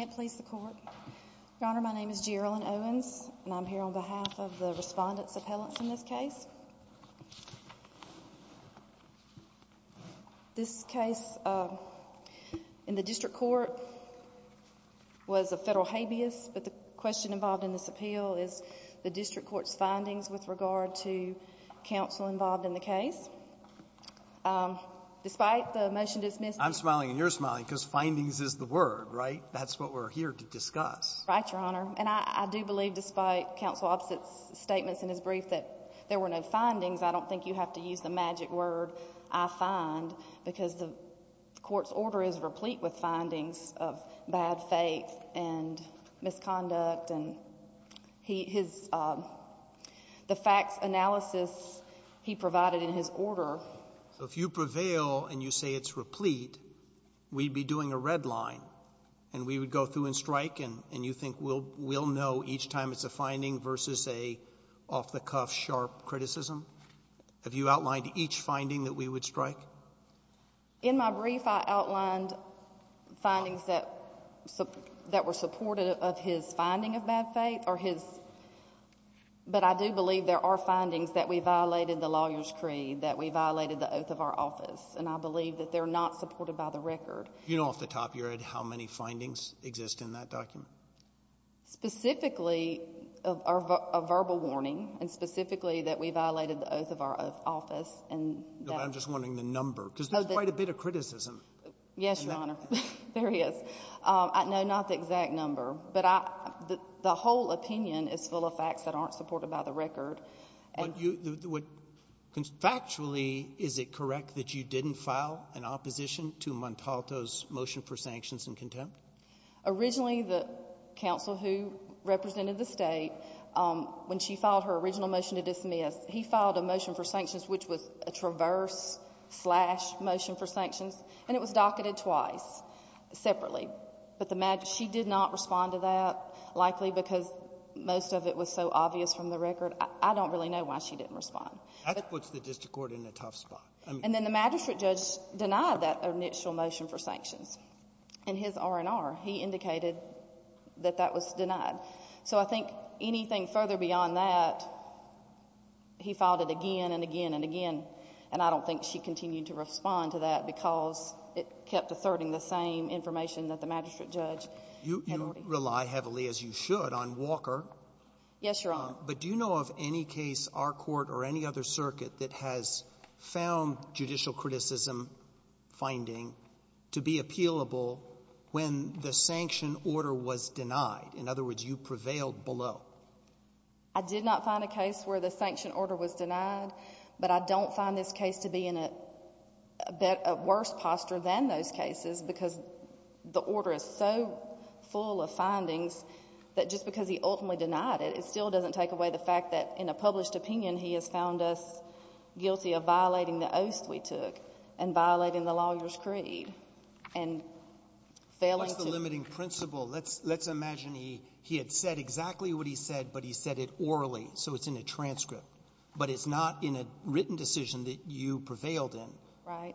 Your Honor, my name is Gerilyn Owens, and I'm here on behalf of the Respondents' Appellants in this case. This case in the District Court was a Federal habeas, but the question involved in this appeal is the District Court's findings with regard to counsel involved in the case. Despite the motion to dismiss. I'm smiling, and you're smiling, because findings is the word, right? That's what we're here to discuss. Right, Your Honor. And I do believe, despite Counsel Opposite's statements in his brief that there were no findings, I don't think you have to use the magic word I find, because the Court's order is replete with findings of bad faith and misconduct. And his — the facts analysis he provided in his order. So if you prevail and you say it's replete, we'd be doing a red line, and we would go through and strike, and you think we'll know each time it's a finding versus an off-the-cuff, sharp criticism? Have you outlined each finding that we would strike? In my brief, I outlined findings that were supportive of his finding of bad faith, or his — And I believe that they're not supported by the record. Do you know off the top of your head how many findings exist in that document? Specifically, a verbal warning, and specifically that we violated the oath of our office. I'm just wondering the number, because there's quite a bit of criticism. Yes, Your Honor. There is. No, not the exact number. But the whole opinion is full of facts that aren't supported by the record. Factually, is it correct that you didn't file an opposition to Montalto's motion for sanctions and contempt? Originally, the counsel who represented the State, when she filed her original motion to dismiss, he filed a motion for sanctions which was a traverse-slash motion for sanctions, and it was docketed twice, separately. But she did not respond to that, likely because most of it was so obvious from the record. I don't really know why she didn't respond. That puts the district court in a tough spot. And then the magistrate judge denied that initial motion for sanctions. In his R&R, he indicated that that was denied. So I think anything further beyond that, he filed it again and again and again, and I don't think she continued to respond to that because it kept asserting the same information that the magistrate judge had already — You rely heavily, as you should, on Walker. Yes, Your Honor. But do you know of any case, our Court or any other circuit, that has found judicial criticism finding to be appealable when the sanction order was denied? In other words, you prevailed below. I did not find a case where the sanction order was denied, but I don't find this case to be in a worse posture than those cases because the order is so full of findings that just because he ultimately denied it, it still doesn't take away the fact that in a published opinion, he has found us guilty of violating the oath we took and violating the lawyer's creed and failing to — What's the limiting principle? Let's imagine he had said exactly what he said, but he said it orally, so it's in a transcript. But it's not in a written decision that you prevailed in. Right.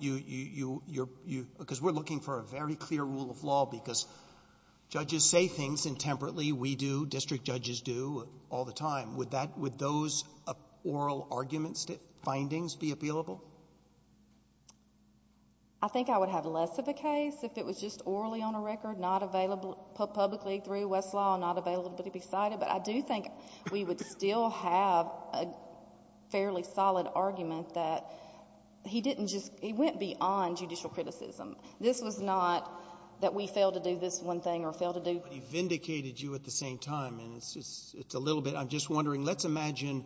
Because we're looking for a very clear rule of law because judges say things intemperately. We do. District judges do all the time. Would that — would those oral arguments, findings be appealable? I think I would have less of a case if it was just orally on a record, not available — publicly through Westlaw, not available to be cited. But I do think we would still have a fairly solid argument that he didn't just — he went beyond judicial criticism. This was not that we failed to do this one thing or failed to do — But he vindicated you at the same time. And it's just — it's a little bit — I'm just wondering, let's imagine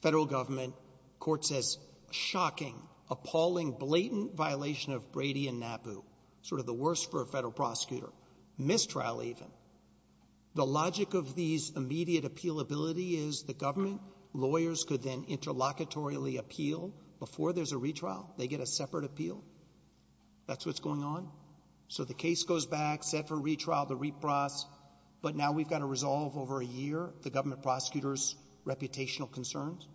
federal government court says, shocking, appalling, blatant violation of Brady and Nabu, sort of the worst for a federal prosecutor, mistrial even. The logic of these immediate appealability is the government lawyers could then appeal before there's a retrial. They get a separate appeal. That's what's going on. So the case goes back, set for retrial, the repross, but now we've got to resolve over a year the government prosecutor's reputational concerns?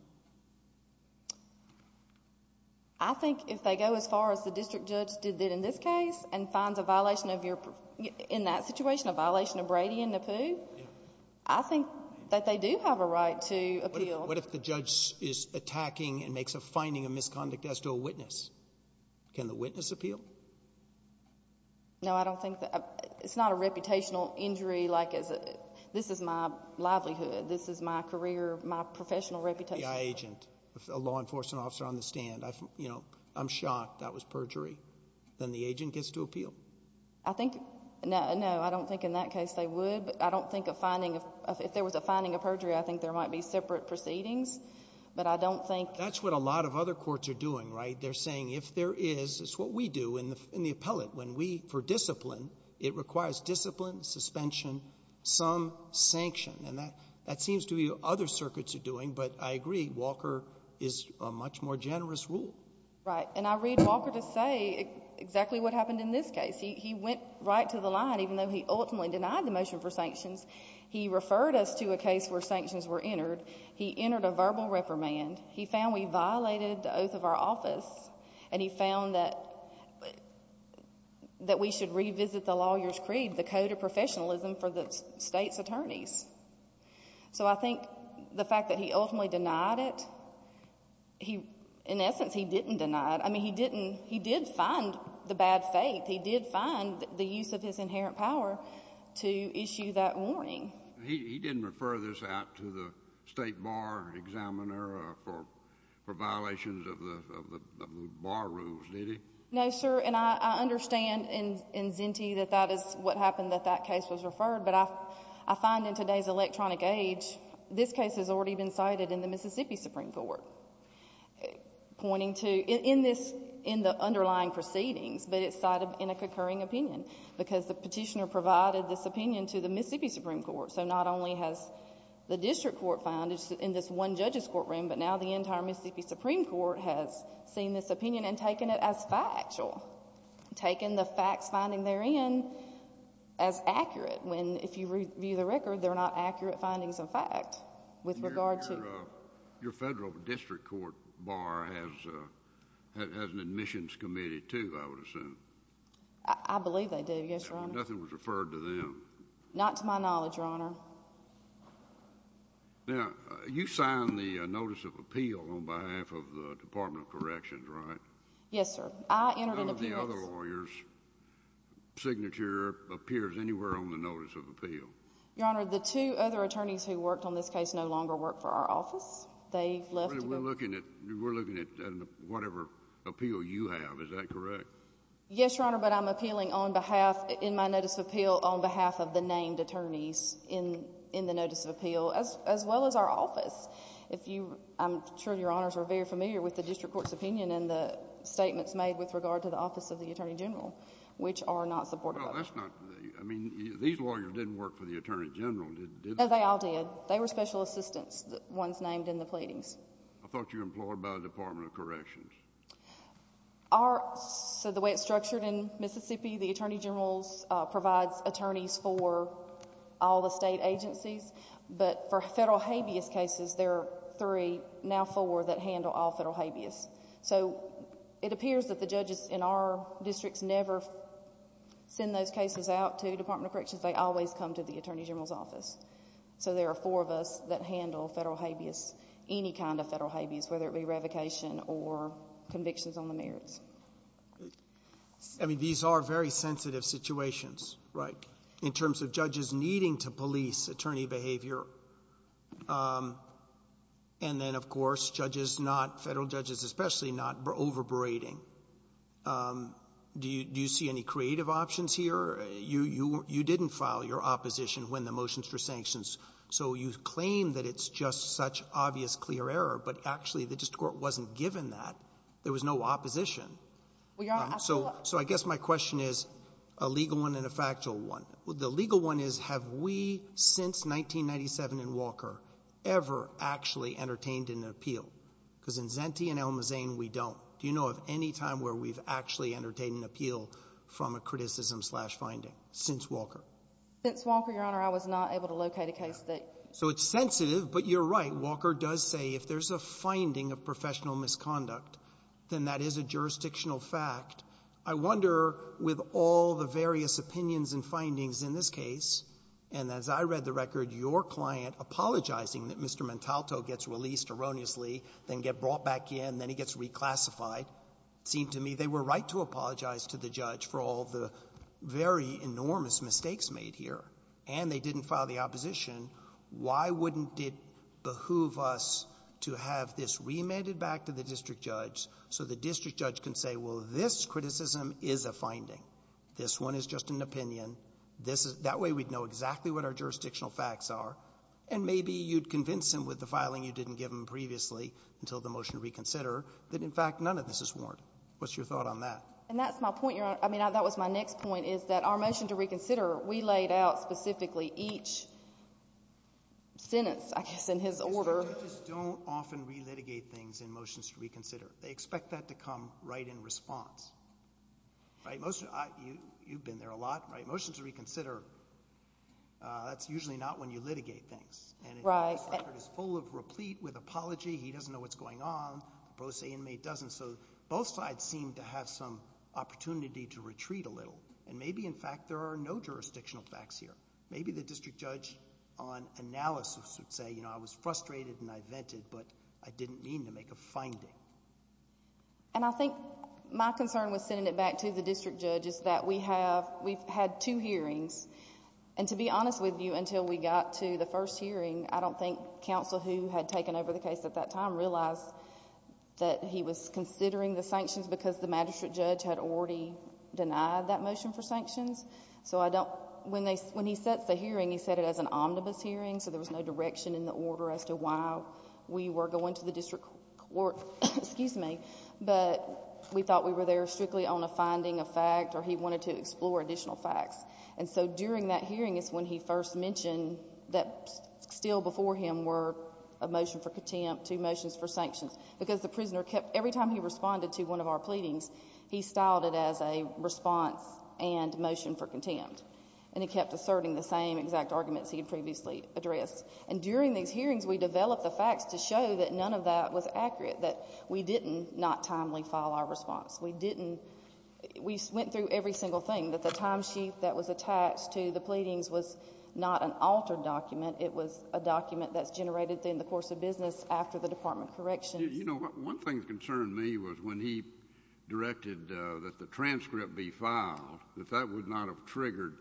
I think if they go as far as the district judge did in this case and finds a violation of your — in that situation, a violation of Brady and Nabu, I think that they do have a right to appeal. What if the judge is attacking and makes a finding of misconduct as to a witness? Can the witness appeal? No, I don't think — it's not a reputational injury like as a — this is my livelihood. This is my career, my professional reputation. A FBI agent, a law enforcement officer on the stand. You know, I'm shocked that was perjury. Then the agent gets to appeal. I think — no, I don't think in that case they would. But I don't think a finding of — if there was a finding of perjury, I think there might be separate proceedings. But I don't think — That's what a lot of other courts are doing, right? They're saying if there is — it's what we do in the appellate. When we — for discipline, it requires discipline, suspension, some sanction. And that — that seems to be what other circuits are doing, but I agree Walker is a much more generous rule. Right. And I read Walker to say exactly what happened in this case. He went right to the line, even though he ultimately denied the motion for sanctions. He referred us to a case where sanctions were entered. He entered a verbal reprimand. He found we violated the oath of our office. And he found that we should revisit the Lawyer's Creed, the code of professionalism for the state's attorneys. So I think the fact that he ultimately denied it, he — in essence, he didn't deny it. I mean, he didn't — he did find the bad faith. He did find the use of his inherent power to issue that warning. He didn't refer this out to the state bar examiner for violations of the bar rules, did he? No, sir. And I understand in Zenty that that is what happened, that that case was referred. But I find in today's electronic age, this case has already been cited in the Mississippi Supreme Court, pointing to — in this — in the underlying proceedings, but it's cited in a concurring opinion because the petitioner provided this opinion to the Mississippi Supreme Court. So not only has the district court found it in this one judge's courtroom, but now the entire Mississippi Supreme Court has seen this opinion and taken it as factual, taken the facts finding therein as accurate, when if you review the record, they're not accurate findings of fact with regard to — The district court bar has an admissions committee, too, I would assume. I believe they do, yes, Your Honor. Nothing was referred to them. Not to my knowledge, Your Honor. Now, you signed the notice of appeal on behalf of the Department of Corrections, right? Yes, sir. I entered an appearance — None of the other lawyers' signature appears anywhere on the notice of appeal. Your Honor, the two other attorneys who worked on this case no longer work for our office. They left — We're looking at whatever appeal you have. Is that correct? Yes, Your Honor, but I'm appealing on behalf — in my notice of appeal on behalf of the named attorneys in the notice of appeal, as well as our office. If you — I'm sure Your Honors are very familiar with the district court's opinion and the statements made with regard to the office of the attorney general, which are not supported by that. Well, that's not — I mean, these lawyers didn't work for the attorney general, did they? No, they all did. They were special assistants, the ones named in the pleadings. I thought you implored by the Department of Corrections. Our — so the way it's structured in Mississippi, the attorney general provides attorneys for all the state agencies. But for federal habeas cases, there are three, now four, that handle all federal habeas. So it appears that the judges in our districts never send those cases out to the Department of Corrections. They always come to the attorney general's office. So there are four of us that handle federal habeas, any kind of federal habeas, whether it be revocation or convictions on the merits. I mean, these are very sensitive situations, right, in terms of judges needing to police attorney behavior. And then, of course, judges not — federal judges especially — not overberating. Do you see any creative options here? You didn't file your opposition when the motions were sanctions. So you claim that it's just such obvious, clear error, but actually the district court wasn't given that. There was no opposition. So I guess my question is a legal one and a factual one. The legal one is, have we, since 1997 and Walker, ever actually entertained an appeal? Because in Zenty and Elma Zane, we don't. Do you know of any time where we've actually entertained an appeal from a criticism-slash-finding since Walker? Since Walker, Your Honor, I was not able to locate a case that — So it's sensitive, but you're right. Walker does say if there's a finding of professional misconduct, then that is a jurisdictional fact. I wonder, with all the various opinions and findings in this case, and as I read the record, your client apologizing that Mr. Montalto gets released erroneously, then get brought back in, then he gets reclassified, it seemed to me they were right to apologize to the judge for all the very enormous mistakes made here. And they didn't file the opposition. Why wouldn't it behoove us to have this remanded back to the district judge so the district judge can say, well, this criticism is a finding, this one is just an opinion, this is — And maybe you'd convince him with the filing you didn't give him previously until the motion to reconsider that, in fact, none of this is warranted. What's your thought on that? And that's my point, Your Honor. I mean, that was my next point, is that our motion to reconsider, we laid out specifically each sentence, I guess, in his order. District judges don't often relitigate things in motions to reconsider. They expect that to come right in response. Right? You've been there a lot, right? In a motion to reconsider, that's usually not when you litigate things. Right. And the district judge is full of replete with apology. He doesn't know what's going on. The pro se inmate doesn't. So both sides seem to have some opportunity to retreat a little. And maybe, in fact, there are no jurisdictional facts here. Maybe the district judge on analysis would say, you know, I was frustrated and I vented, but I didn't mean to make a finding. And I think my concern with sending it back to the district judge is that we've had two hearings. And to be honest with you, until we got to the first hearing, I don't think counsel who had taken over the case at that time realized that he was considering the sanctions because the magistrate judge had already denied that motion for sanctions. So when he sets the hearing, he set it as an omnibus hearing, so there was no direction in the order as to why we were going to the district court. Excuse me. But we thought we were there strictly on a finding of fact or he wanted to explore additional facts. And so during that hearing is when he first mentioned that still before him were a motion for contempt, two motions for sanctions. Because the prisoner kept – every time he responded to one of our pleadings, he styled it as a response and motion for contempt. And he kept asserting the same exact arguments he had previously addressed. And during these hearings, we developed the facts to show that none of that was accurate, that we did not timely file our response. We didn't – we went through every single thing, that the timesheet that was attached to the pleadings was not an altered document. It was a document that's generated in the course of business after the Department of Correction. You know, one thing that concerned me was when he directed that the transcript be filed, that that would not have triggered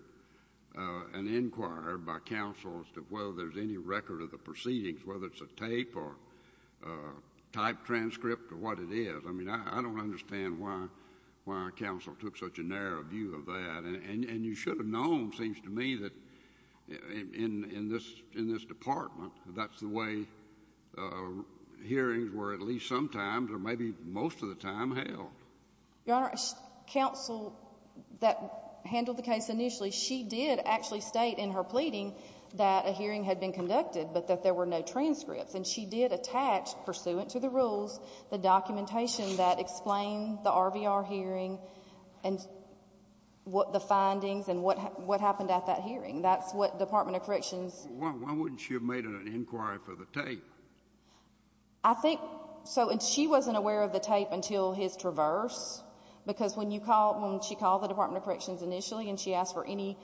an inquiry by counsel as to whether there's any record of the proceedings, whether it's a tape or type transcript or what it is. I mean, I don't understand why counsel took such a narrow view of that. And you should have known, it seems to me, that in this department, that's the way hearings were at least sometimes or maybe most of the time held. Your Honor, counsel that handled the case initially, she did actually state in her pleading that a hearing had been conducted but that there were no transcripts, and she did attach, pursuant to the rules, the documentation that explained the RVR hearing and what the findings and what happened at that hearing. That's what the Department of Corrections— Why wouldn't she have made an inquiry for the tape? I think – so, and she wasn't aware of the tape until his traverse, because when you call – when she called the Department of Corrections initially and she asked for any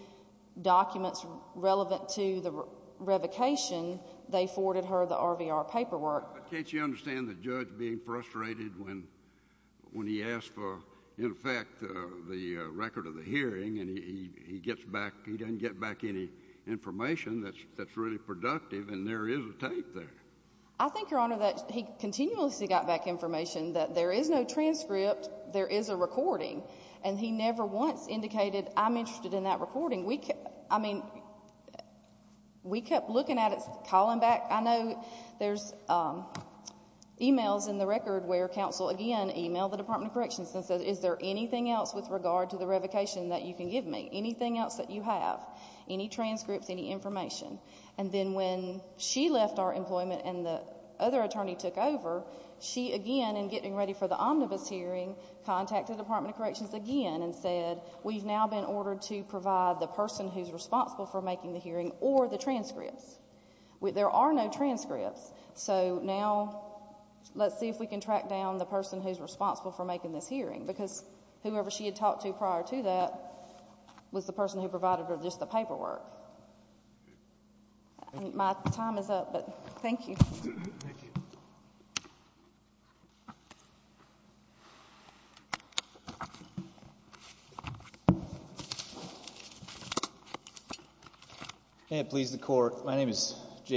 documents relevant to the revocation, they forwarded her the RVR paperwork. But can't you understand the judge being frustrated when he asked for, in effect, the record of the hearing and he gets back – he doesn't get back any information that's really productive and there is a tape there? I think, Your Honor, that he continuously got back information that there is no transcript, there is a recording. And he never once indicated, I'm interested in that recording. I mean, we kept looking at it, calling back. I know there's emails in the record where counsel, again, emailed the Department of Corrections and said, is there anything else with regard to the revocation that you can give me, anything else that you have, any transcripts, any information? And then when she left our employment and the other attorney took over, she, again, in getting ready for the omnibus hearing, contacted the Department of Corrections again and said, we've now been ordered to provide the person who's responsible for making the hearing or the transcripts. There are no transcripts. So now let's see if we can track down the person who's responsible for making this hearing because whoever she had talked to prior to that was the person who provided her just the paperwork. My time is up, but thank you. Thank you.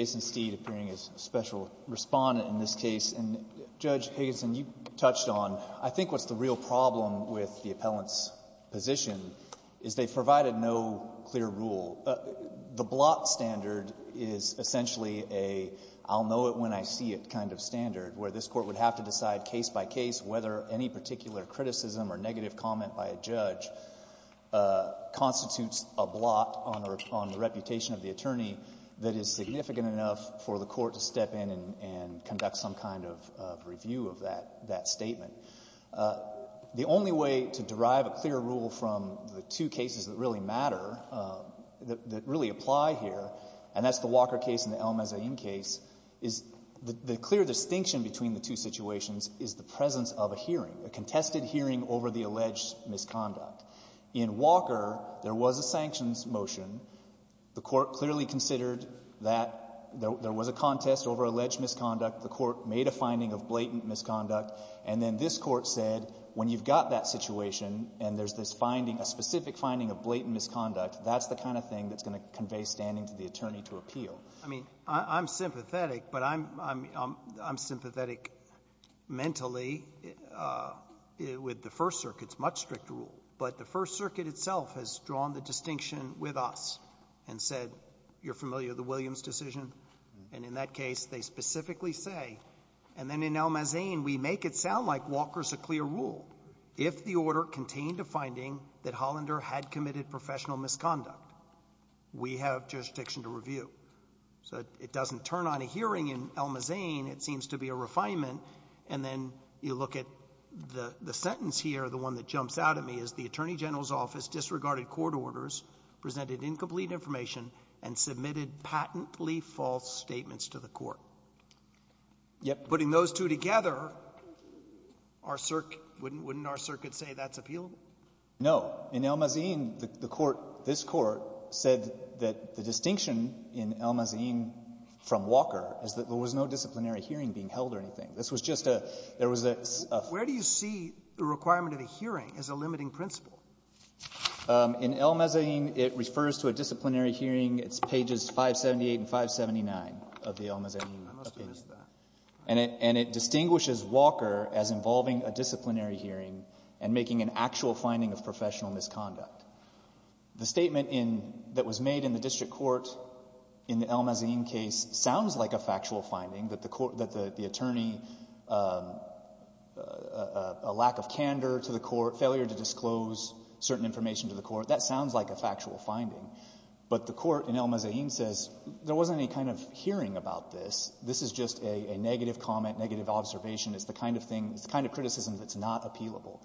Steed, appearing as a special Respondent in this case. And, Judge Higginson, you touched on, I think what's the real problem with the appellant's position is they've provided no clear rule. The blot standard is essentially a I'll know it when I see it kind of standard, where this Court would have to decide case by case whether any particular criticism or negative comment by a judge constitutes a blot on the reputation of the attorney that is significant enough for the Court to step in and conduct some kind of review of that statement. The only way to derive a clear rule from the two cases that really matter, that really apply here, and that's the Walker case and the El-Mezzayim case, is the clear distinction between the two situations is the presence of a hearing, a contested hearing over the alleged misconduct. In Walker, there was a sanctions motion. The Court clearly considered that there was a contest over alleged misconduct. The Court made a finding of blatant misconduct. And then this Court said when you've got that situation and there's this finding, a specific finding of blatant misconduct, that's the kind of thing that's going to convey standing to the attorney to appeal. I mean, I'm sympathetic, but I'm sympathetic mentally with the First Circuit's much stricter rule. But the First Circuit itself has drawn the distinction with us and said, you're familiar with the Williams decision? And in that case, they specifically say, and then in El-Mezzayim, we make it sound like Walker's a clear rule. If the order contained a finding that Hollander had committed professional misconduct, we have jurisdiction to review. So it doesn't turn on a hearing in El-Mezzayim. It seems to be a refinement. And then you look at the sentence here, the one that jumps out at me, is the Attorney General's Office disregarded court orders, presented incomplete information, and submitted patently false statements to the Court. Yep. Putting those two together, our Circ — wouldn't our Circuit say that's appealable? No. In El-Mezzayim, the Court — this Court said that the distinction in El-Mezzayim from Walker is that there was no disciplinary hearing being held or anything. This was just a — there was a — Where do you see the requirement of a hearing as a limiting principle? In El-Mezzayim, it refers to a disciplinary hearing. It's pages 578 and 579 of the El-Mezzayim opinion. I must have missed that. And it distinguishes Walker as involving a disciplinary hearing and making an actual finding of professional misconduct. The statement in — that was made in the district court in the El-Mezzayim case sounds like a factual finding, that the court — that the attorney — a lack of candor to the court, failure to disclose certain information to the court. That sounds like a factual finding. But the court in El-Mezzayim says there wasn't any kind of hearing about this. This is just a negative comment, negative observation. It's the kind of thing — it's the kind of criticism that's not appealable.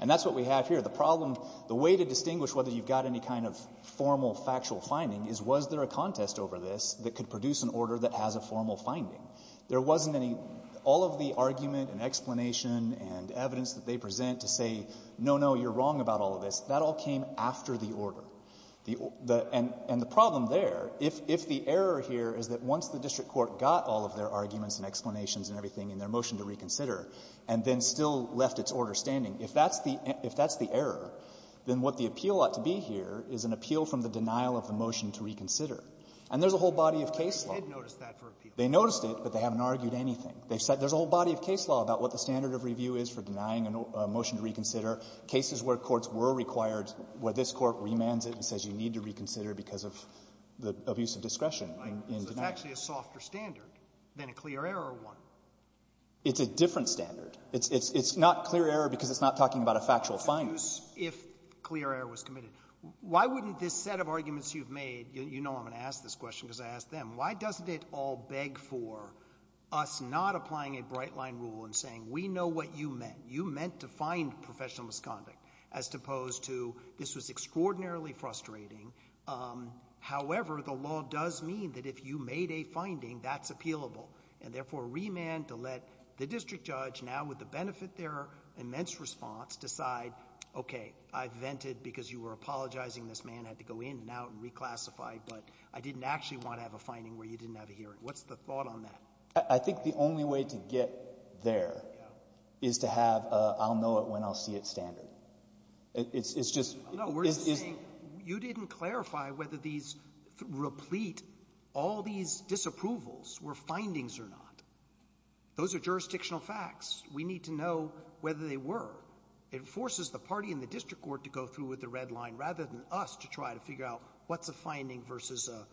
And that's what we have here. The problem — the way to distinguish whether you've got any kind of formal factual finding is was there a contest over this that could produce an order that has a formal finding? There wasn't any — all of the argument and explanation and evidence that they present to say, no, no, you're wrong about all of this, that all came after the order. The — and the problem there, if the error here is that once the district court got all of their arguments and explanations and everything in their motion to reconsider and then still left its order standing, if that's the — if that's the error, then what the appeal ought to be here is an appeal from the denial of the motion to reconsider. And there's a whole body of case law. They did notice that for appeal. They noticed it, but they haven't argued anything. They've said there's a whole body of case law about what the standard of review is for denying a motion to reconsider, cases where courts were required, where this Court remands it and says you need to reconsider because of the abuse of discretion in denying it. Right. So it's actually a softer standard than a clear error one. It's a different standard. It's — it's not clear error because it's not talking about a factual finding. What's the use if clear error was committed? Why wouldn't this set of arguments you've made — you know I'm going to ask this question, why doesn't it all beg for us not applying a bright-line rule and saying we know what you meant. You meant to find professional misconduct as opposed to this was extraordinarily frustrating. However, the law does mean that if you made a finding, that's appealable. And therefore, remand to let the district judge now with the benefit their immense response decide, okay, I've vented because you were apologizing this man had to go in and out and reclassify, but I didn't actually want to have a finding where you didn't have a hearing. What's the thought on that? I think the only way to get there is to have a I'll know it when I'll see it standard. It's — it's just — No. We're just saying you didn't clarify whether these — replete all these disapprovals were findings or not. Those are jurisdictional facts. We need to know whether they were. It forces the party in the district court to go through with the red line rather than us to try to figure out what's a finding versus a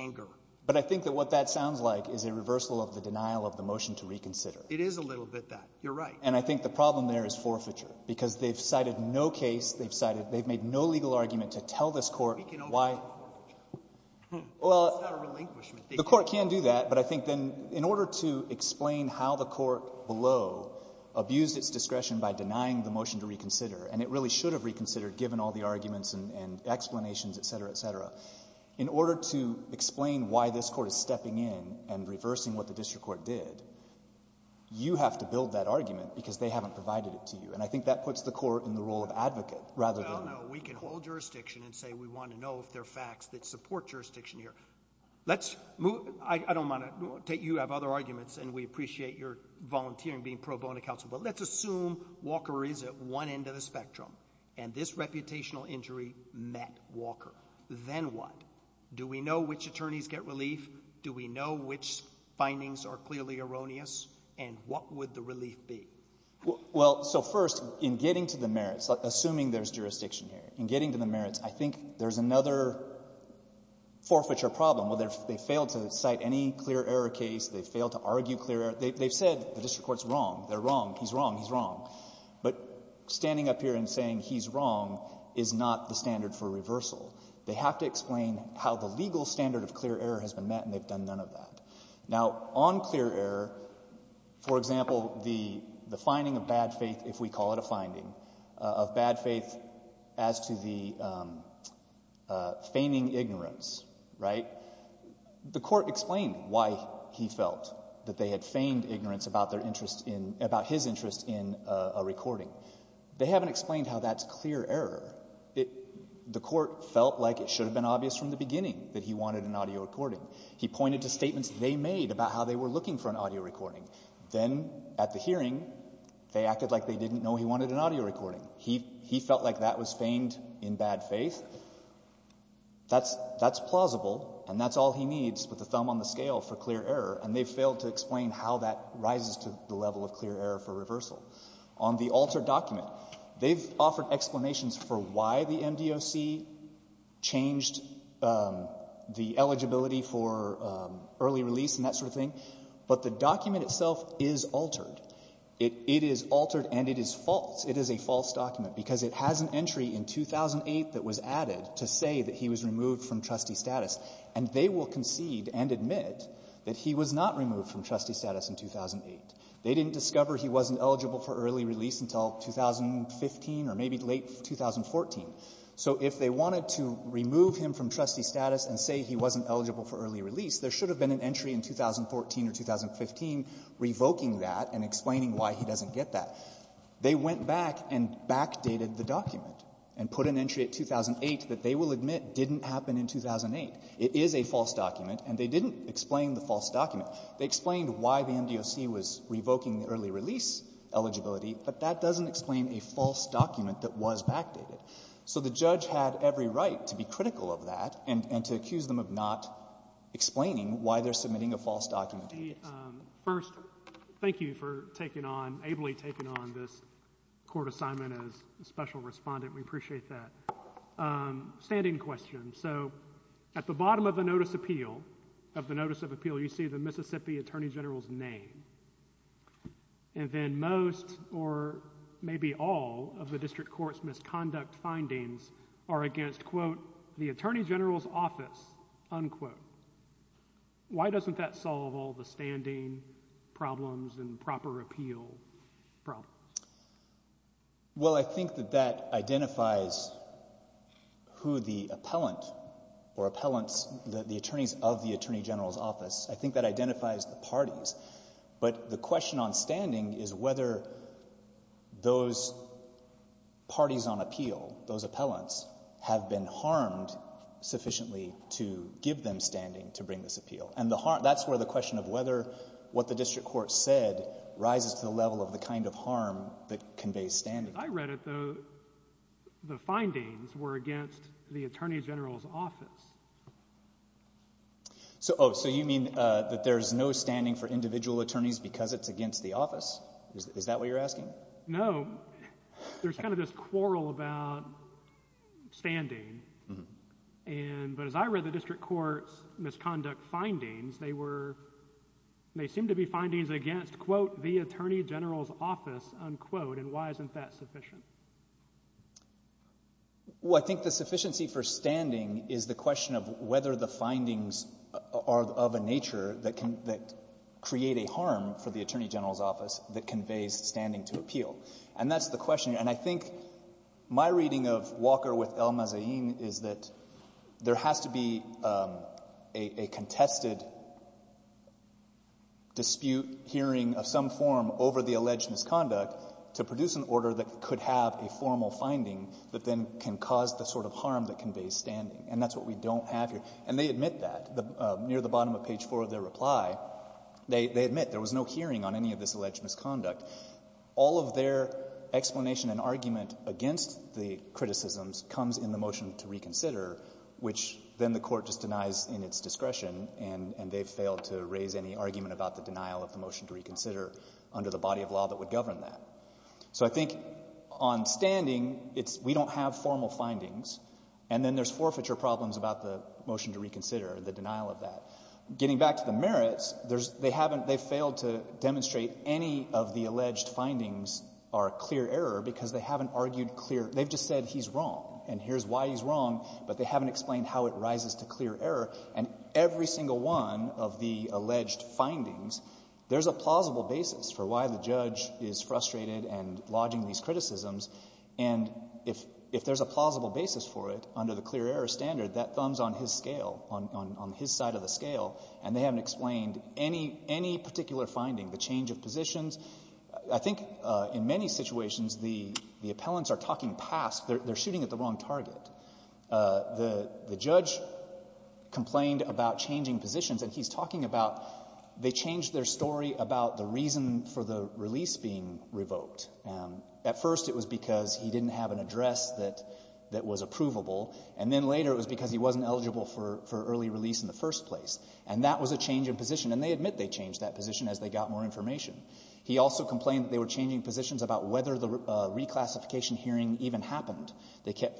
anger. But I think that what that sounds like is a reversal of the denial of the motion to reconsider. It is a little bit that. You're right. And I think the problem there is forfeiture, because they've cited no case. They've cited — they've made no legal argument to tell this Court why — We can open forfeiture. Well — It's not a relinquishment. The Court can do that, but I think then in order to explain how the Court below abused its discretion by denying the motion to reconsider, and it really should have reconsidered and given all the arguments and explanations, et cetera, et cetera, in order to explain why this Court is stepping in and reversing what the district court did, you have to build that argument because they haven't provided it to you. And I think that puts the Court in the role of advocate rather than — No, no. We can hold jurisdiction and say we want to know if there are facts that support jurisdiction here. Let's move — I don't want to — you have other arguments, and we appreciate your volunteering, being pro bono counsel, but let's assume Walker is at one end of the Then what? Do we know which attorneys get relief? Do we know which findings are clearly erroneous? And what would the relief be? Well, so first, in getting to the merits, assuming there's jurisdiction here, in getting to the merits, I think there's another forfeiture problem. They failed to cite any clear error case. They failed to argue clear error. They've said the district court's wrong. They're wrong. He's wrong. He's wrong. But standing up here and saying he's wrong is not the standard for reversal. They have to explain how the legal standard of clear error has been met, and they've done none of that. Now, on clear error, for example, the finding of bad faith, if we call it a finding, of bad faith as to the feigning ignorance, right, the Court explained why he felt that they had feigned ignorance about his interest in a recording. They haven't explained how that's clear error. The Court felt like it should have been obvious from the beginning that he wanted an audio recording. He pointed to statements they made about how they were looking for an audio recording. Then at the hearing, they acted like they didn't know he wanted an audio recording. He felt like that was feigned in bad faith. That's plausible, and that's all he needs with a thumb on the scale for clear error, and they've failed to explain how that rises to the level of clear error for reversal. On the altered document, they've offered explanations for why the MDOC changed the eligibility for early release and that sort of thing. But the document itself is altered. It is altered and it is false. It is a false document, because it has an entry in 2008 that was added to say that he was removed from trustee status. And they will concede and admit that he was not removed from trustee status in 2008. They didn't discover he wasn't eligible for early release until 2015 or maybe late 2014. So if they wanted to remove him from trustee status and say he wasn't eligible for early release, there should have been an entry in 2014 or 2015 revoking that and explaining why he doesn't get that. They went back and backdated the document and put an entry at 2008 that they will It is a false document, and they didn't explain the false document. They explained why the MDOC was revoking the early release eligibility, but that doesn't explain a false document that was backdated. So the judge had every right to be critical of that and to accuse them of not explaining why they're submitting a false document. First, thank you for taking on, ably taking on this court assignment as special respondent. We appreciate that. Standing question. So at the bottom of the notice of appeal, you see the Mississippi attorney general's name. And then most or maybe all of the district court's misconduct findings are against, quote, the attorney general's office, unquote. Why doesn't that solve all the standing problems and proper appeal problems? Well, I think that that identifies who the appellant or appellants, the attorneys of the attorney general's office, I think that identifies the parties. But the question on standing is whether those parties on appeal, those appellants, have been harmed sufficiently to give them standing to bring this appeal. And that's where the question of whether what the district court said rises to the level of the kind of harm that conveys standing. I read it, though. The findings were against the attorney general's office. So you mean that there's no standing for individual attorneys because it's against the office? Is that what you're asking? No. There's kind of this quarrel about standing. But as I read the district court's misconduct findings, they seem to be findings against, quote, the attorney general's office, unquote. And why isn't that sufficient? Well, I think the sufficiency for standing is the question of whether the findings are of a nature that create a harm for the attorney general's office that conveys standing to appeal. And that's the question. And I think my reading of Walker with El-Mazahin is that there has to be a contested dispute hearing of some form over the alleged misconduct to produce an order that could have a formal finding that then can cause the sort of harm that conveys standing. And that's what we don't have here. And they admit that. Near the bottom of page 4 of their reply, they admit there was no hearing on any of this alleged misconduct. All of their explanation and argument against the criticisms comes in the motion to reconsider, which then the court just denies in its discretion, and they've failed to raise any argument about the denial of the motion to reconsider under the body of law that would govern that. So I think on standing, it's we don't have formal findings, and then there's forfeiture problems about the motion to reconsider, the denial of that. Getting back to the merits, there's they haven't they failed to demonstrate any of the alleged findings are clear error because they haven't argued clear. They've just said he's wrong, and here's why he's wrong, but they haven't explained how it rises to clear error. And every single one of the alleged findings, there's a plausible basis for why the judge is frustrated and lodging these criticisms. And if there's a plausible basis for it under the clear error standard, that thumbs on his scale, on his side of the scale, and they haven't explained any particular finding, the change of positions. I think in many situations, the appellants are talking past. They're shooting at the wrong target. The judge complained about changing positions, and he's talking about they changed their story about the reason for the release being revoked. At first, it was because he didn't have an address that was approvable, and then later it was because he wasn't eligible for early release in the first place. And that was a change in position, and they admit they changed that position as they got more information. He also complained that they were changing positions about whether the reclassification hearing even happened.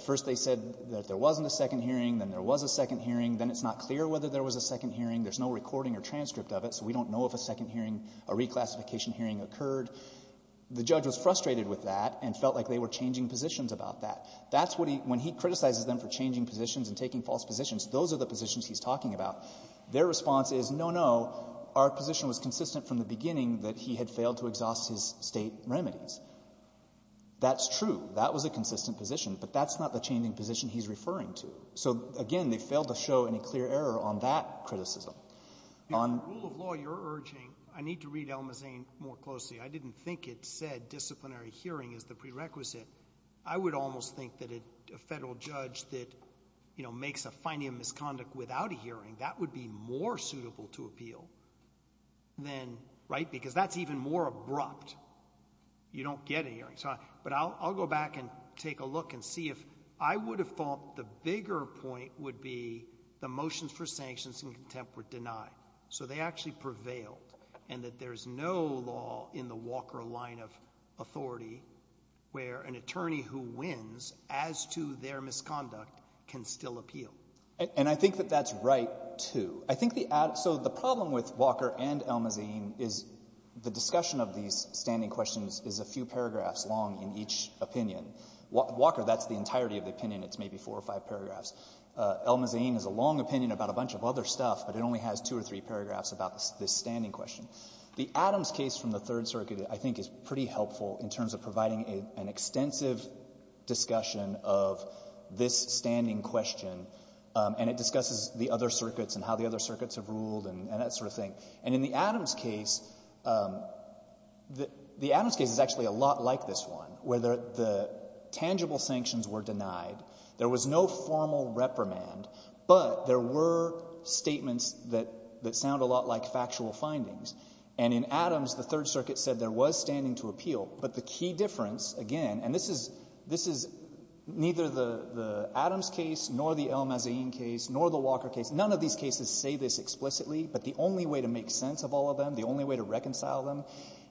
First they said that there wasn't a second hearing, then there was a second hearing, then it's not clear whether there was a second hearing, there's no recording or transcript of it, so we don't know if a second hearing, a reclassification hearing occurred. The judge was frustrated with that and felt like they were changing positions about that. That's what he – when he criticizes them for changing positions and taking false positions, those are the positions he's talking about. Their response is, no, no, our position was consistent from the beginning that he had failed to exhaust his State remedies. That's true. That was a consistent position, but that's not the changing position he's referring to. So, again, they failed to show any clear error on that criticism. On the rule of law, you're urging – I need to read Elma Zane more closely. I didn't think it said disciplinary hearing is the prerequisite. I would almost think that a federal judge that, you know, makes a finding of misconduct without a hearing, that would be more suitable to appeal than – right? Because that's even more abrupt. You don't get a hearing. But I'll go back and take a look and see if – I would have thought the bigger point would be the motions for sanctions in contempt were denied. So they actually prevailed and that there's no law in the Walker line of authority where an attorney who wins as to their misconduct can still appeal. And I think that that's right, too. I think the – so the problem with Walker and Elma Zane is the discussion of these standing questions is a few paragraphs long in each opinion. Walker, that's the entirety of the opinion. It's maybe four or five paragraphs. Elma Zane has a long opinion about a bunch of other stuff, but it only has two or three paragraphs about this standing question. The Adams case from the Third Circuit, I think, is pretty helpful in terms of providing an extensive discussion of this standing question, and it discusses the other circuits and how the other circuits have ruled and that sort of thing. And in the Adams case, the Adams case is actually a lot like this one where the tangible sanctions were denied, there was no formal reprimand, but there were statements that sound a lot like factual findings. And in Adams, the Third Circuit said there was standing to appeal. But the key difference, again, and this is neither the Adams case nor the Elma Zane case nor the Walker case, none of these cases say this explicitly, but the only way to make sense of all of them, the only way to reconcile them,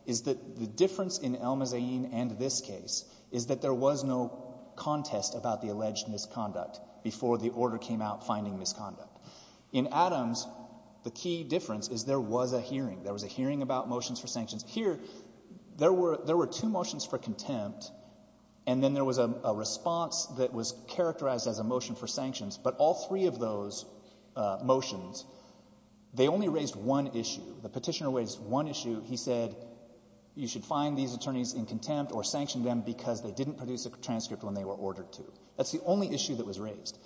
is that the difference in Elma Zane and this case is that there was no contest about the alleged misconduct before the order came out finding misconduct. In Adams, the key difference is there was a hearing. There was a hearing about motions for sanctions. Here, there were two motions for contempt, and then there was a response that was characterized as a motion for sanctions. But all three of those motions, they only raised one issue. The Petitioner raised one issue. He said you should find these attorneys in contempt or sanction them because they didn't produce a transcript when they were ordered to. That's the only issue that was raised.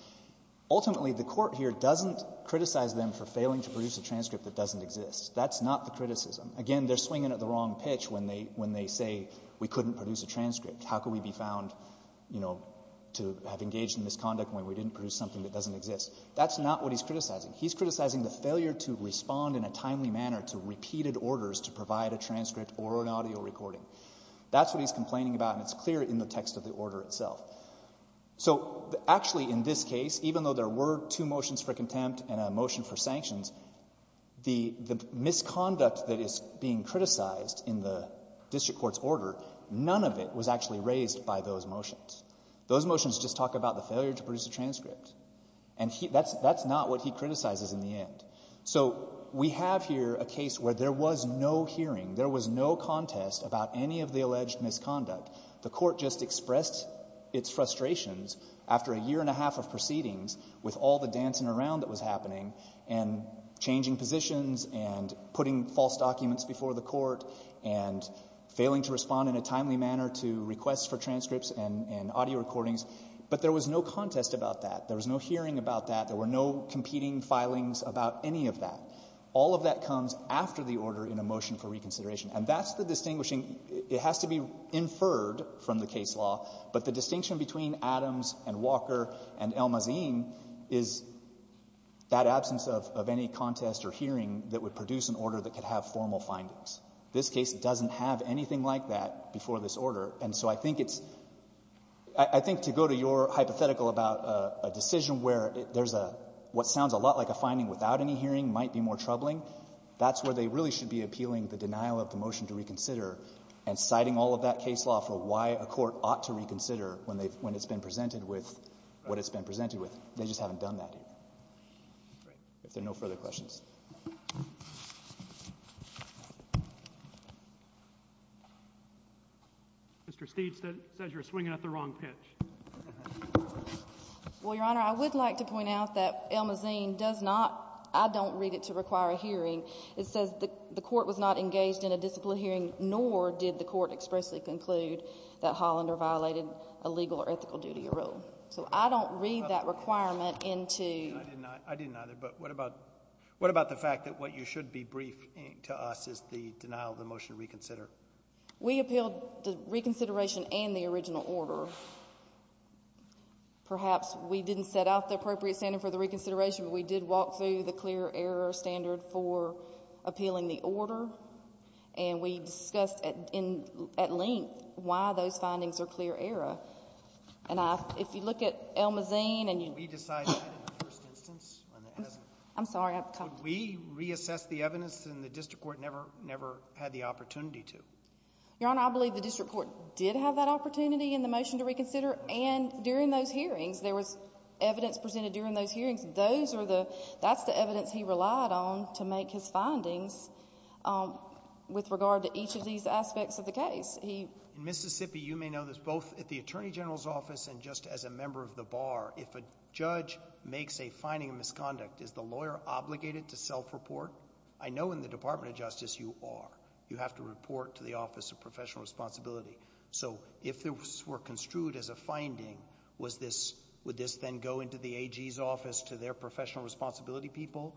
Ultimately, the Court here doesn't criticize them for failing to produce a transcript that doesn't exist. That's not the criticism. Again, they're swinging at the wrong pitch when they say we couldn't produce a transcript. How could we be found, you know, to have engaged in misconduct when we didn't produce something that doesn't exist? That's not what he's criticizing. He's criticizing the failure to respond in a timely manner to repeated orders to provide a transcript or an audio recording. That's what he's complaining about, and it's clear in the text of the order itself. So actually in this case, even though there were two motions for contempt and a motion for sanctions, the misconduct that is being criticized in the district court's order, none of it was actually raised by those motions. Those motions just talk about the failure to produce a transcript. And that's not what he criticizes in the end. So we have here a case where there was no hearing, there was no contest about any of the alleged misconduct. The court just expressed its frustrations after a year and a half of proceedings with all the dancing around that was happening and changing positions and putting false documents before the court and failing to respond in a timely manner to requests for transcripts and audio recordings. But there was no contest about that. There was no hearing about that. There were no competing filings about any of that. All of that comes after the order in a motion for reconsideration. And that's the distinguishing. It has to be inferred from the case law, but the distinction between Adams and Walker and El Mazin is that absence of any contest or hearing that would produce an order that could have formal findings. This case doesn't have anything like that before this order. And so I think it's – I think to go to your hypothetical about a decision where there's a – what sounds a lot like a finding without any hearing might be more troubling, that's where they really should be appealing the denial of the motion to reconsider and citing all of that case law for why a court ought to reconsider when they've – when it's been presented with what it's been presented with. They just haven't done that here. If there are no further questions. Mr. Steed says you're swinging at the wrong pitch. Well, Your Honor, I would like to point out that El Mazin does not – I don't read it to require a hearing. It says the court was not engaged in a disciplinary hearing, nor did the court expressly conclude that Hollander violated a legal or ethical duty or rule. So I don't read that requirement into – I did not either, but what about – what about the fact that what you should be briefing to us is the denial of the motion to reconsider? We appealed the reconsideration and the original order. Perhaps we didn't set out the appropriate standard for the reconsideration, but we did walk through the clear error standard for appealing the order, and we discussed at length why those findings are clear error. And I – if you look at El Mazin and you – We decided that in the first instance. I'm sorry. Could we reassess the evidence and the district court never – never had the opportunity to? Your Honor, I believe the district court did have that opportunity in the motion to reconsider, and during those hearings, there was evidence presented during those hearings. That's the evidence he relied on to make his findings with regard to each of these aspects of the case. He – In Mississippi, you may know this, both at the attorney general's office and just as a member of the bar, if a judge makes a finding of misconduct, is the lawyer obligated to self-report? I know in the Department of Justice you are. You have to report to the Office of Professional Responsibility. So if this were construed as a finding, was this – would this then go into the AG's office to their professional responsibility people?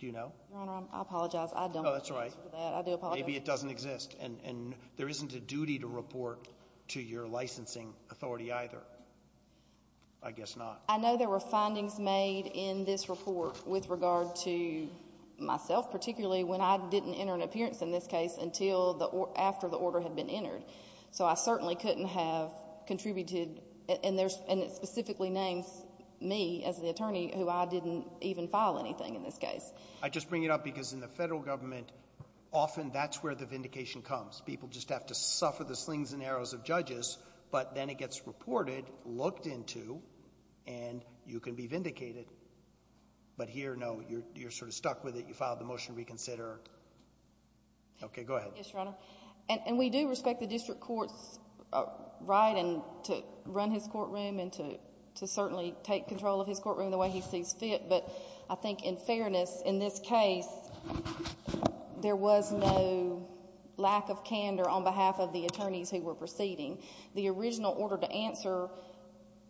Do you know? Your Honor, I apologize. I don't know the answer to that. Oh, that's right. I do apologize. Maybe it doesn't exist. And there isn't a duty to report to your licensing authority either. I guess not. I know there were findings made in this report with regard to myself, particularly when I didn't enter an appearance in this case until the – after the order had been entered. So I certainly couldn't have contributed – and there's – and it specifically names me as the attorney who I didn't even file anything in this case. I just bring it up because in the Federal Government, often that's where the vindication comes. People just have to suffer the slings and arrows of judges, but then it gets reported, looked into, and you can be vindicated. But here, no, you're sort of stuck with it. You filed the motion to reconsider. Okay. Go ahead. Yes, Your Honor. And we do respect the district court's right to run his courtroom and to certainly take control of his courtroom the way he sees fit. But I think in fairness, in this case, there was no lack of candor on behalf of the attorneys who were proceeding. The original order to answer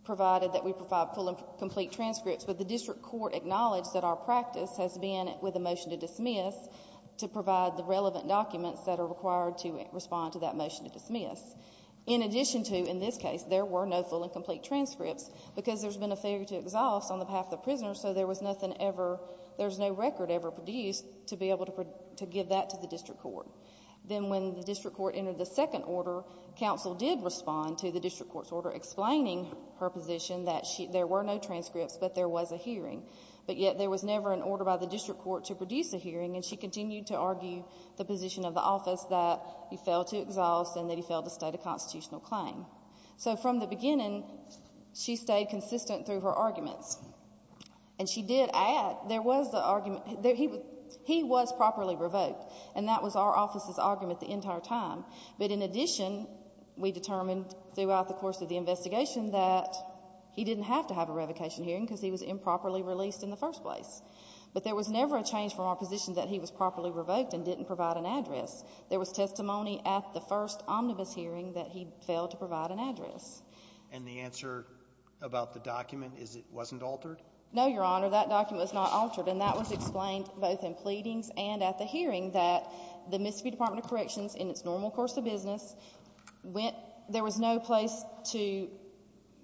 provided that we provide full and complete transcripts, but the district court acknowledged that our practice has been, with the motion to that motion to dismiss. In addition to, in this case, there were no full and complete transcripts, because there's been a failure to exhaust on behalf of the prisoners, so there was nothing ever – there's no record ever produced to be able to give that to the district court. Then when the district court entered the second order, counsel did respond to the district court's order explaining her position that there were no transcripts, but there was a hearing. But yet there was never an order by the district court to produce a hearing, and she continued to argue the position of the office that he failed to exhaust and that he failed to state a constitutional claim. So from the beginning, she stayed consistent through her arguments, and she did add there was the argument – he was properly revoked, and that was our office's argument the entire time. But in addition, we determined throughout the course of the investigation that he didn't have to have a revocation hearing, because he was improperly released in the first place. But there was never a change from our position that he was properly revoked and didn't provide an address. There was testimony at the first omnibus hearing that he failed to provide an address. And the answer about the document is it wasn't altered? No, Your Honor. That document was not altered, and that was explained both in pleadings and at the hearing that the Mississippi Department of Corrections, in its normal course of business, went – there was no place to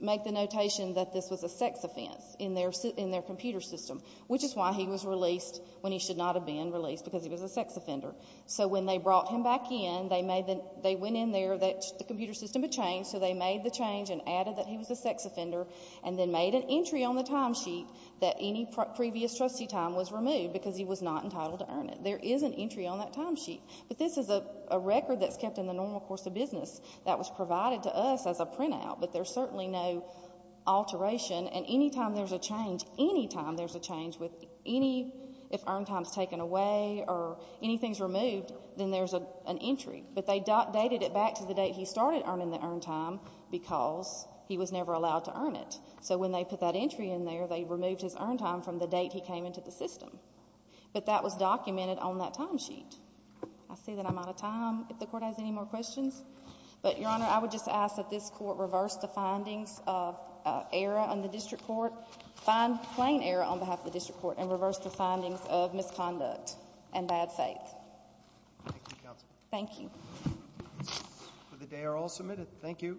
make the notation that this was a sex offense in their computer system, which is why he was released when he should not have been released, because he was a sex offender. So when they brought him back in, they made the – they went in there, the computer system had changed, so they made the change and added that he was a sex offender and then made an entry on the timesheet that any previous trustee time was removed because he was not entitled to earn it. There is an entry on that timesheet. But this is a record that's kept in the normal course of business that was provided to us as a printout, but there's certainly no alteration. And any time there's a change, any time there's a change with any – if earn time is taken away or anything is removed, then there's an entry. But they dated it back to the date he started earning the earn time because he was never allowed to earn it. So when they put that entry in there, they removed his earn time from the date he came into the system. But that was documented on that timesheet. I see that I'm out of time. If the Court has any more questions. But, Your Honor, I would just ask that this Court reverse the findings of error on the district court – plain error on behalf of the district court and reverse the findings of misconduct and bad faith. Thank you, counsel. Thank you. The cases for the day are all submitted. Thank you.